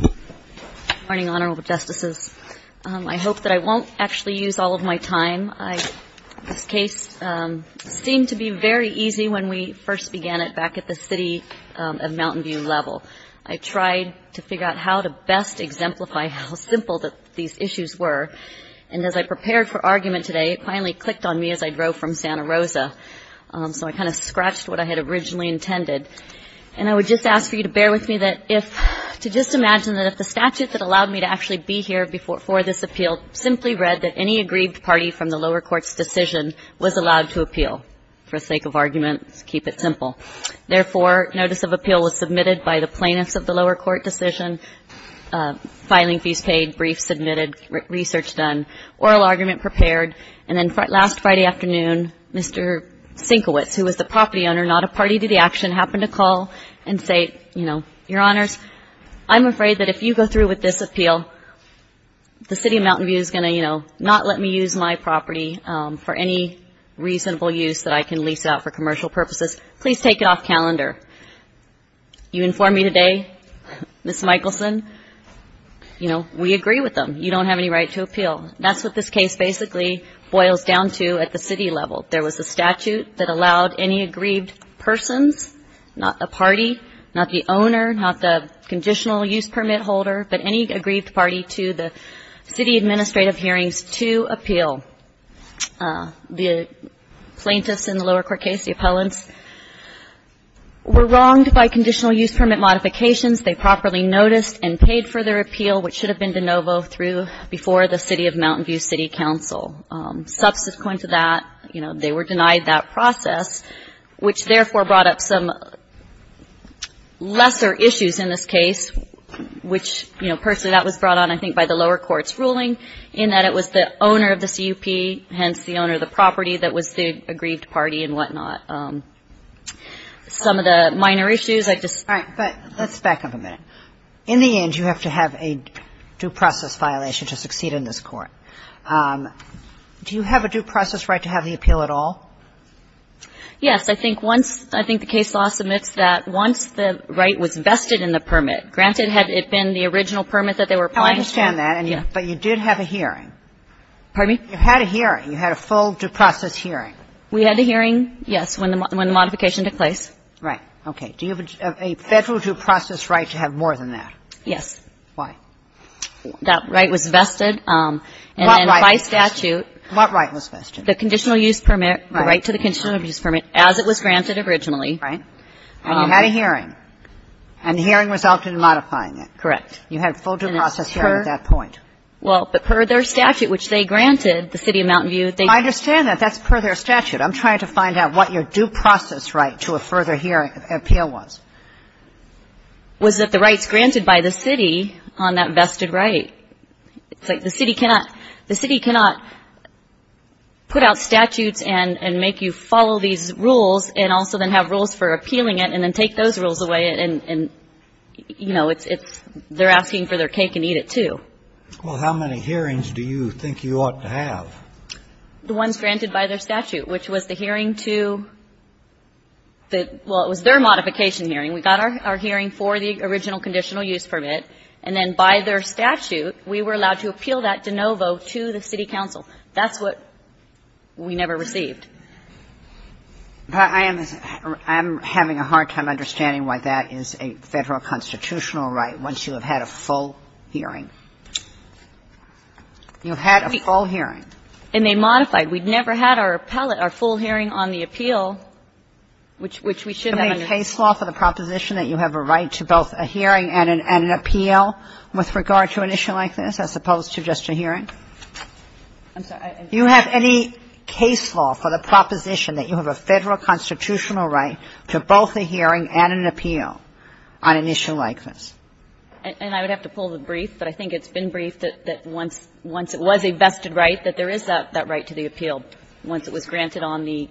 Good morning, Honorable Justices. I hope that I won't actually use all of my time. This case seemed to be very easy when we first began it back at the City of Mountain View level. I tried to figure out how to best exemplify how simple these issues were, and as I prepared for argument today, it finally clicked on me as I drove from Santa Rosa. So I kind of scratched what I had originally intended. And I would just ask for you to bear with me to just imagine that if the statute that allowed me to actually be here for this appeal simply read that any aggrieved party from the lower court's decision was allowed to appeal, for sake of argument, keep it simple. Therefore, notice of appeal was submitted by the plaintiffs of the lower court decision, filing fees paid, briefs submitted, research done, oral argument prepared, and then last Friday afternoon, Mr. Sienkiewicz, who was the property owner, not a party to the action, happened to call and say, you know, Your Honors, I'm afraid that if you go through with this appeal, the City of Mountain View is going to, you know, not let me use my property for any reasonable use that I can lease out for commercial purposes. Please take it off calendar. You inform me today, Ms. Michelson, you know, we agree with them. You don't have any right to appeal. That's what this case basically boils down to at the city level. There was a statute that allowed any aggrieved persons, not the party, not the owner, not the conditional use permit holder, but any aggrieved party to the city administrative hearings to appeal. The plaintiffs in the lower court case, the appellants, were wronged by conditional use permit modifications. They properly noticed and paid for their appeal, which should have been de novo through before the City of Mountain View City Council. Subsequent to that, you know, they were denied that process, which therefore brought up some lesser issues in this case, which, you know, personally, that was brought on, I think, by the lower court's ruling in that it was the owner of the CUP, hence the owner of the property that was the aggrieved party and whatnot. Some of the minor issues, I just All right. But let's back up a minute. In the end, you have to have a due process violation to succeed in this court. Do you have a due process right to have the appeal at all? Yes. I think once the case law submits that, once the right was vested in the permit, granted, had it been the original permit that they were applying to. I understand that. Yeah. But you did have a hearing. Pardon me? You had a hearing. You had a full due process hearing. We had a hearing, yes, when the modification took place. Right. Okay. Do you have a federal due process right to have more than that? Yes. Why? That right was vested. And then by statute What right was vested? The conditional use permit, the right to the conditional use permit, as it was granted originally. Right. And you had a hearing. And the hearing resulted in modifying it. Correct. You had a full due process hearing at that point. Well, but per their statute, which they granted, the City of Mountain View, they No, I understand that. That's per their statute. I'm trying to find out what your due process right to a further hearing appeal was. Was that the rights granted by the City on that vested right. It's like the City cannot, the City cannot put out statutes and make you follow these rules and also then have rules for appealing it and then take those rules away and, you know, it's, they're asking for their cake and eat it too. Well, how many hearings do you think you ought to have? The ones granted by their statute, which was the hearing to the, well, it was their modification hearing. We got our hearing for the original conditional use permit. And then by their statute, we were allowed to appeal that de novo to the city council. That's what we never received. I am having a hard time understanding why that is a Federal constitutional right once you have had a full hearing. You had a full hearing. And they modified. We never had our appellate, our full hearing on the appeal, which we should have understood. Do you have any case law for the proposition that you have a right to both a hearing and an appeal with regard to an issue like this, as opposed to just a hearing? I'm sorry. Do you have any case law for the proposition that you have a Federal constitutional right to both a hearing and an appeal on an issue like this? And I would have to pull the brief, but I think it's been briefed that once it was a vested right, that there is that right to the appeal once it was granted on the,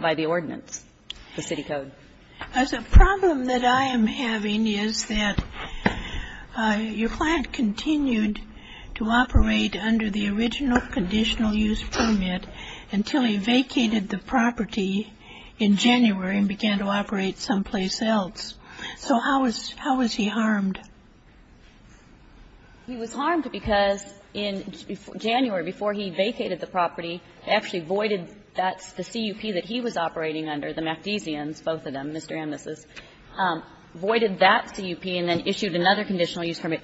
by the ordinance, the city code. The problem that I am having is that your client continued to operate under the original conditional use permit until he vacated the property in January and began to operate someplace else. So how is, how is he harmed? He was harmed because in January, before he vacated the property, they actually voided that, the CUP that he was operating under, the MacDesians, both of them, Mr. Amnesty, voided that CUP and then issued another conditional use permit.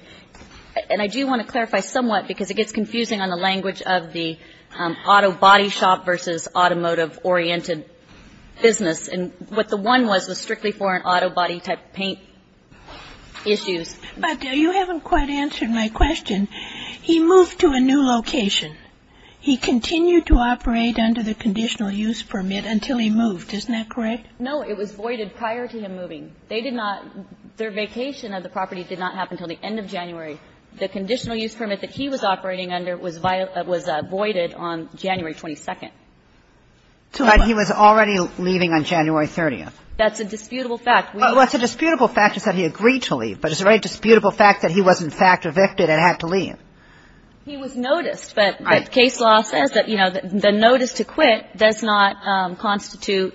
And I do want to clarify somewhat, because it gets confusing on the language of the auto body shop versus automotive-oriented business. And what the one was was strictly for an auto body type paint issues. But you haven't quite answered my question. He moved to a new location. He continued to operate under the conditional use permit until he moved. Isn't that correct? No, it was voided prior to him moving. They did not, their vacation of the property did not happen until the end of January. The conditional use permit that he was operating under was voided on January 22nd. But he was already leaving on January 30th. That's a disputable fact. What's a disputable fact is that he agreed to leave. But it's a very disputable fact that he was, in fact, evicted and had to leave. He was noticed. But case law says that, you know, the notice to quit does not constitute,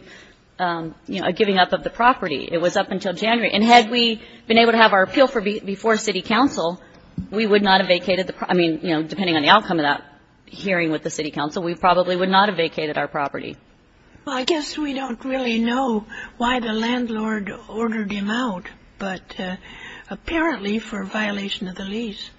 you know, a giving up of the property. It was up until January. And had we been able to have our appeal before city council, we would not have vacated the property. I mean, you know, depending on the outcome of that hearing with the city council, we probably would not have vacated our property. Well, I guess we don't really know why the landlord ordered him out, but apparently for violation of the lease.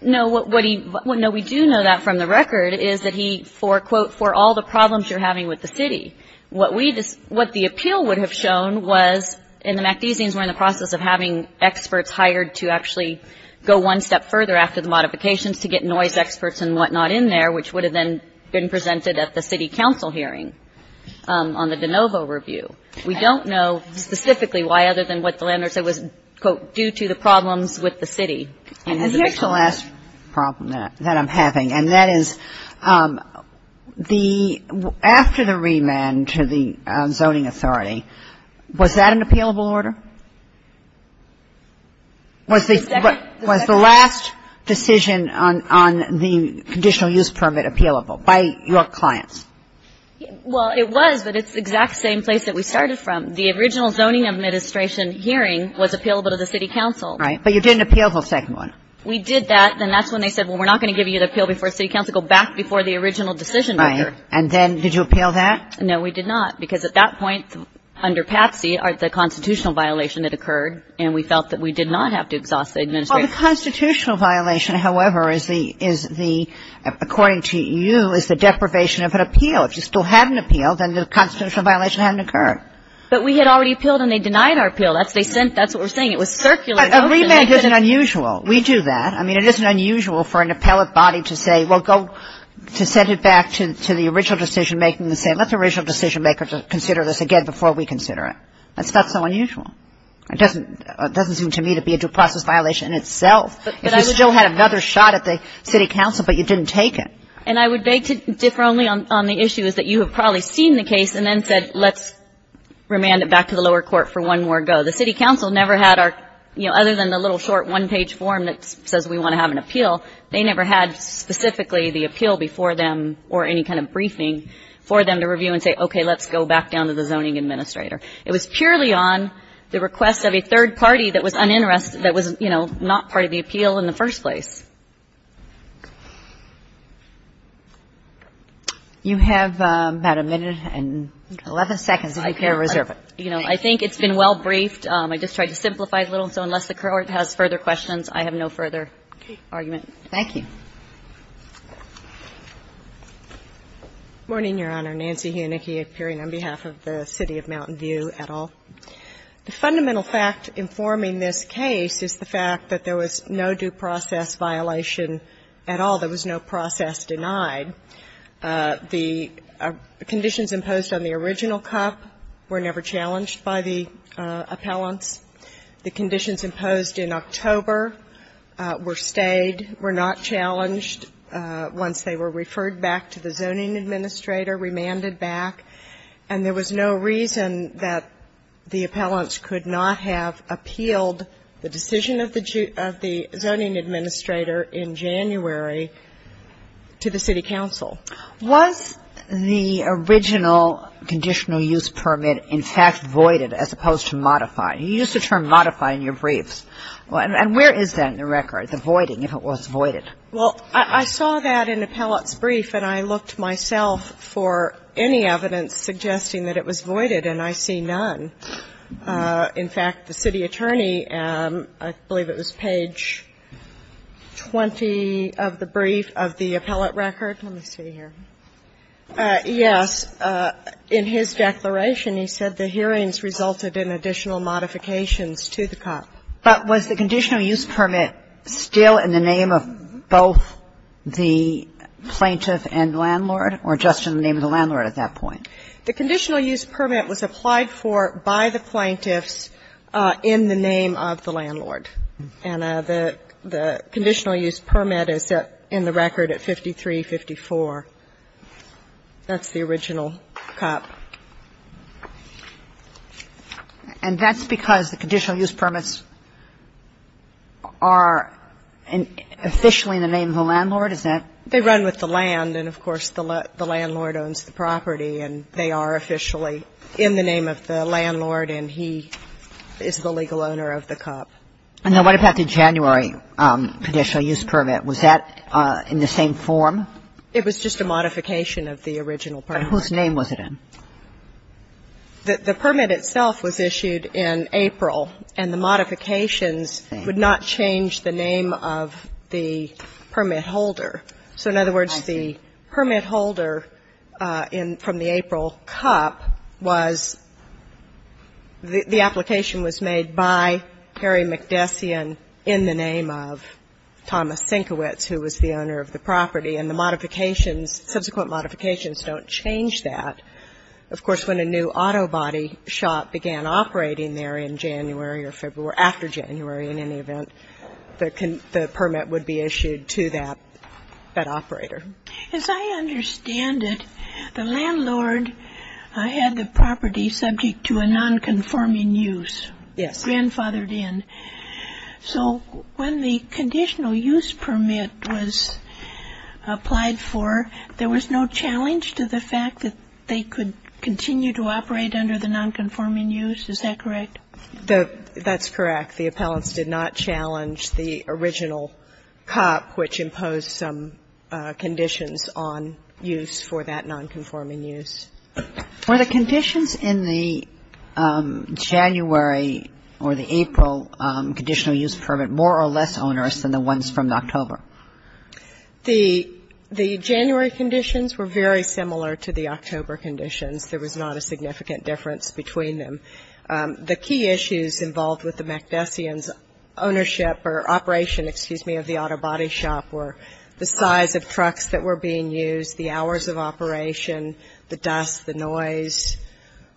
No, what he, no, we do know that from the record, is that he for, quote, for all the problems you're having with the city. What we, what the appeal would have shown was, and the MacDesians were in the process of having experts hired to actually go one step further after the modifications to get noise experts and whatnot in there, which would have then been presented at the city council hearing on the de novo review. We don't know specifically why other than what the landlord said was, quote, due to the problems with the city. And the actual last problem that I'm having, and that is the, after the remand to the zoning authority, was that an appealable order? Was the, was the last decision on, on the conditional use permit appealable by your clients? Well, it was, but it's the exact same place that we started from. The original zoning administration hearing was appealable to the city council. Right. But you didn't appeal the second one. We did that, and that's when they said, well, we're not going to give you the appeal before city council, go back before the original decision maker. Right. And then did you appeal that? No, we did not, because at that point under Patsy the constitutional violation had occurred, and we felt that we did not have to exhaust the administration. Well, the constitutional violation, however, is the, is the, according to you is the deprivation of an appeal. If you still hadn't appealed, then the constitutional violation hadn't occurred. But we had already appealed, and they denied our appeal. That's what we're saying. It was circulated. But a remand isn't unusual. We do that. I mean, it isn't unusual for an appellate body to say, well, go to send it back to the original decision maker and say, let the original decision maker consider this again before we consider it. That's not so unusual. It doesn't seem to me to be a due process violation in itself. If you still had another shot at the city council, but you didn't take it. And I would beg to differ only on the issue is that you have probably seen the case and then said, let's remand it back to the lower court for one more go. The city council never had our, you know, other than the little short one-page form that says we want to have an appeal, they never had specifically the appeal before them or any kind of briefing for them to review and say, okay, let's go back down to the zoning administrator. It was purely on the request of a third party that was uninterested, that was, you know, not part of the appeal in the first place. You have about a minute and 11 seconds if you care to reserve it. You know, I think it's been well briefed. I just tried to simplify it a little. So unless the court has further questions, I have no further argument. Thank you. Ginsburg. Morning, Your Honor. Nancy Heonigke appearing on behalf of the City of Mountain View et al. The fundamental fact informing this case is the fact that there was no due process violation at all. There was no process denied. The conditions imposed on the original cup were never challenged by the appellants. The conditions imposed in October were stayed, were not challenged once they were referred back to the zoning administrator, remanded back. And there was no reason that the appellants could not have appealed the decision of the zoning administrator in January to the city council. Was the original conditional use permit, in fact, voided as opposed to modified? You used the term modified in your briefs. And where is that in the record, the voiding, if it was voided? Well, I saw that in the appellant's brief, and I looked myself for any evidence suggesting that it was voided, and I see none. In fact, the city attorney, I believe it was page 20 of the brief of the appellant record. Let me see here. Yes. In his declaration, he said the hearings resulted in additional modifications to the cup. But was the conditional use permit still in the name of both the plaintiff and landlord, or just in the name of the landlord at that point? The conditional use permit was applied for by the plaintiffs in the name of the landlord. And the conditional use permit is in the record at 5354. That's the original cup. And that's because the conditional use permits are officially in the name of the landlord, is that? They run with the land, and, of course, the landlord owns the property, and they are officially in the name of the landlord, and he is the legal owner of the cup. And then what about the January conditional use permit? Was that in the same form? It was just a modification of the original permit. But whose name was it in? The permit itself was issued in April, and the modifications would not change the name of the permit holder. So, in other words, the permit holder from the April cup was the application was made by Harry McDessian in the name of Thomas Sienkiewicz, who was the owner of the property. And the modifications, subsequent modifications, don't change that. Of course, when a new auto body shop began operating there in January or February or after January, in any event, the permit would be issued to that operator. As I understand it, the landlord had the property subject to a nonconforming use. Yes. Grandfathered in. So when the conditional use permit was applied for, there was no challenge to the fact that they could continue to operate under the nonconforming use, is that correct? That's correct. The appellants did not challenge the original cup, which imposed some conditions on use for that nonconforming use. Were the conditions in the January or the April conditional use permit more or less onerous than the ones from October? The January conditions were very similar to the October conditions. There was not a significant difference between them. The key issues involved with the MacDessians' ownership or operation, excuse me, of the auto body shop were the size of trucks that were being used, the hours of operation, the dust, the noise,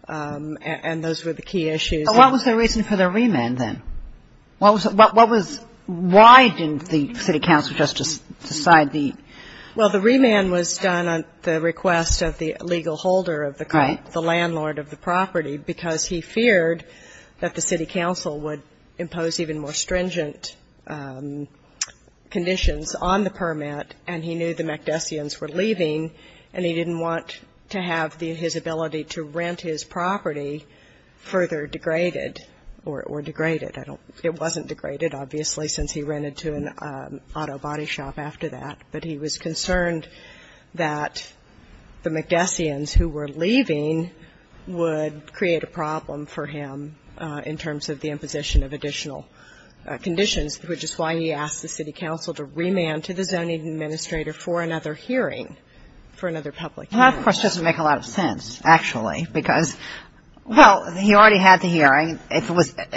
and those were the key issues. But what was the reason for the remand then? What was why didn't the city council just decide the? Well, the remand was done at the request of the legal holder of the cup, the landlord of the property, because he feared that the city council would impose even more stringent conditions on the permit, and he knew the MacDessians were leaving, and he didn't want to have his ability to rent his property further degraded or degraded. It wasn't degraded, obviously, since he rented to an auto body shop after that. But he was concerned that the MacDessians who were leaving would create a problem for him in terms of the imposition of additional conditions, which is why he asked the city council to remand to the zoning administrator for another hearing, for another public hearing. That, of course, doesn't make a lot of sense, actually, because, well, he already had the hearing.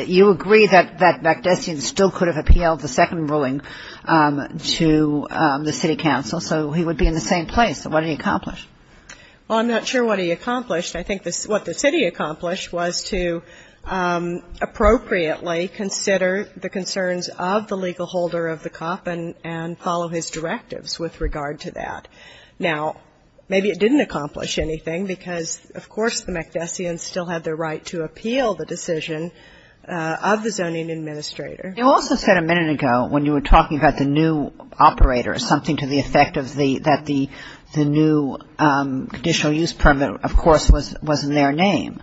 You agree that MacDessians still could have appealed the second ruling to the city council, so he would be in the same place. So what did he accomplish? Well, I'm not sure what he accomplished. I think what the city accomplished was to appropriately consider the concerns of the legal holder of the cup and follow his directives with regard to that. Now, maybe it didn't accomplish anything, because, of course, the MacDessians still had the right to appeal the decision of the zoning administrator. They also said a minute ago, when you were talking about the new operator, something to the effect of the new conditional use permit, of course, was in their name.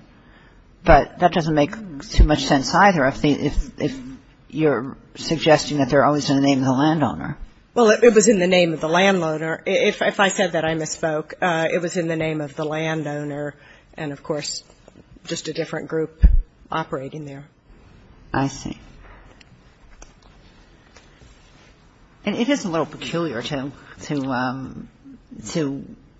But that doesn't make too much sense either, if you're suggesting that they're always in the name of the landowner. Well, it was in the name of the landowner. If I said that, I misspoke. It was in the name of the landowner and, of course, just a different group operating there. I see. And it is a little peculiar to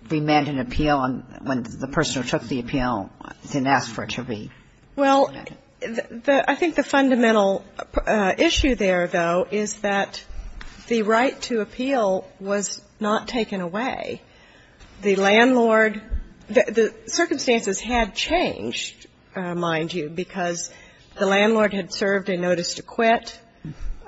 remand an appeal when the person who took the appeal didn't ask for it to be remanded. Well, I think the fundamental issue there, though, is that the right to appeal was not taken away. The landlord the circumstances had changed, mind you, because the landlord had served a notice to quit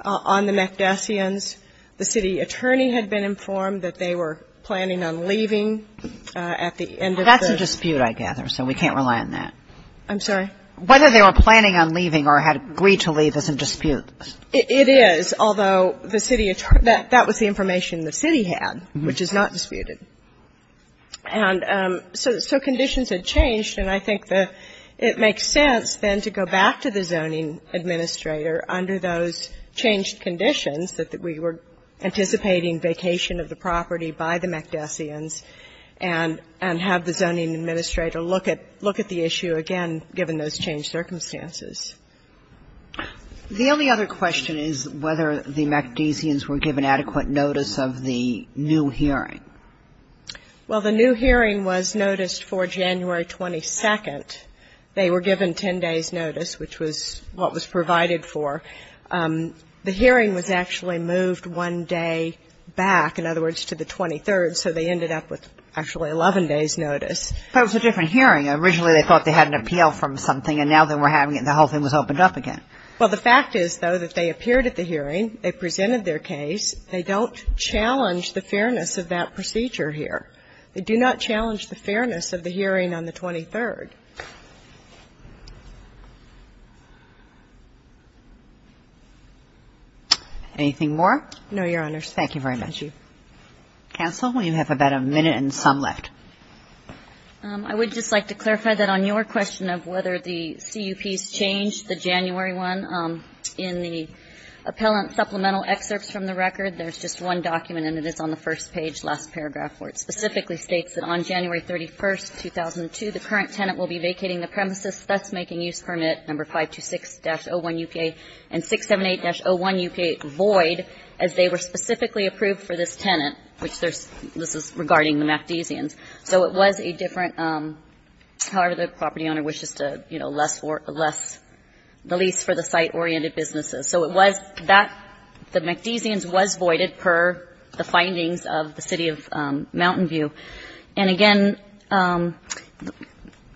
on the McDessians. The city attorney had been informed that they were planning on leaving at the end of the ---- That's a dispute, I gather, so we can't rely on that. I'm sorry? Whether they were planning on leaving or had agreed to leave is a dispute. It is, although the city attorney ---- that was the information the city had, which is not disputed. And so conditions had changed, and I think that it makes sense then to go back to the zoning administrator under those changed conditions that we were anticipating vacation of the property by the McDessians and have the zoning administrator look at the issue again given those changed circumstances. The only other question is whether the McDessians were given adequate notice of the new hearing. Well, the new hearing was noticed for January 22nd. They were given 10 days' notice, which was what was provided for. The hearing was actually moved one day back, in other words, to the 23rd, so they ended up with actually 11 days' notice. But it was a different hearing. Originally they thought they had an appeal from something, and now they were having it and the whole thing was opened up again. Well, the fact is, though, that they appeared at the hearing, they presented their case. They don't challenge the fairness of that procedure here. They do not challenge the fairness of the hearing on the 23rd. Anything more? No, Your Honors. Thank you very much. Counsel, you have about a minute and some left. I would just like to clarify that on your question of whether the CUPs changed, the January one, in the appellant supplemental excerpts from the record, there's just one document, and it is on the first page, last paragraph, where it specifically states that on January 31st, 2002, the current tenant will be vacating the premises thus making use permit number 526-01-UK and 678-01-UK void as they were specifically approved for this tenant, which this is regarding the MacDesians. So it was a different, however, the property owner wishes to, you know, less the lease for the site-oriented businesses. So it was that the MacDesians was voided per the findings of the City of Mountain View. And, again,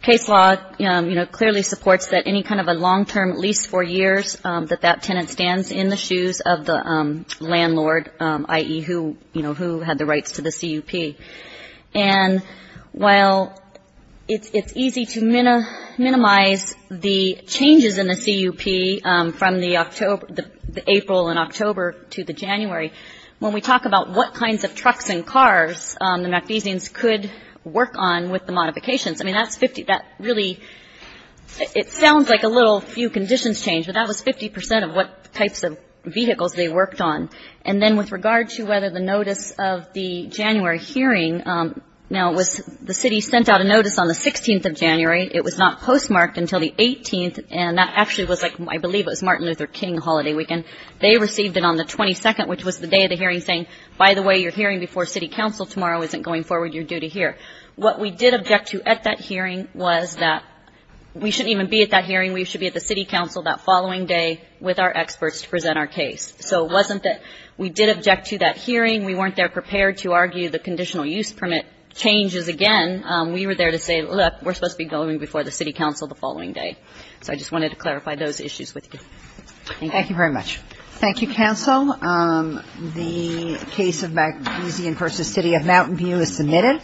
case law, you know, clearly supports that any kind of a long-term lease for years, that that tenant stands in the shoes of the landlord, i.e., who, you know, who had the rights to the CUP. And while it's easy to minimize the changes in the CUP from the April and October to the January, when we talk about what kinds of trucks and cars the MacDesians could work on with the modifications, I mean, that's 50, that really, it sounds like a little few conditions changed, but that was 50 percent of what types of vehicles they worked on. And then with regard to whether the notice of the January hearing, now it was, the City sent out a notice on the 16th of January. It was not postmarked until the 18th, and that actually was like, I believe, it was Martin Luther King holiday weekend. They received it on the 22nd, which was the day of the hearing, saying, by the way, your hearing before City Council tomorrow isn't going forward. You're due to hear. What we did object to at that hearing was that we shouldn't even be at that hearing. We should be at the City Council that following day with our experts to present our case. So it wasn't that we did object to that hearing. We weren't there prepared to argue the conditional use permit changes again. We were there to say, look, we're supposed to be going before the City Council the following day. So I just wanted to clarify those issues with you. Thank you. Thank you very much. Thank you, counsel. The case of Magdusian v. City of Mountain View is submitted.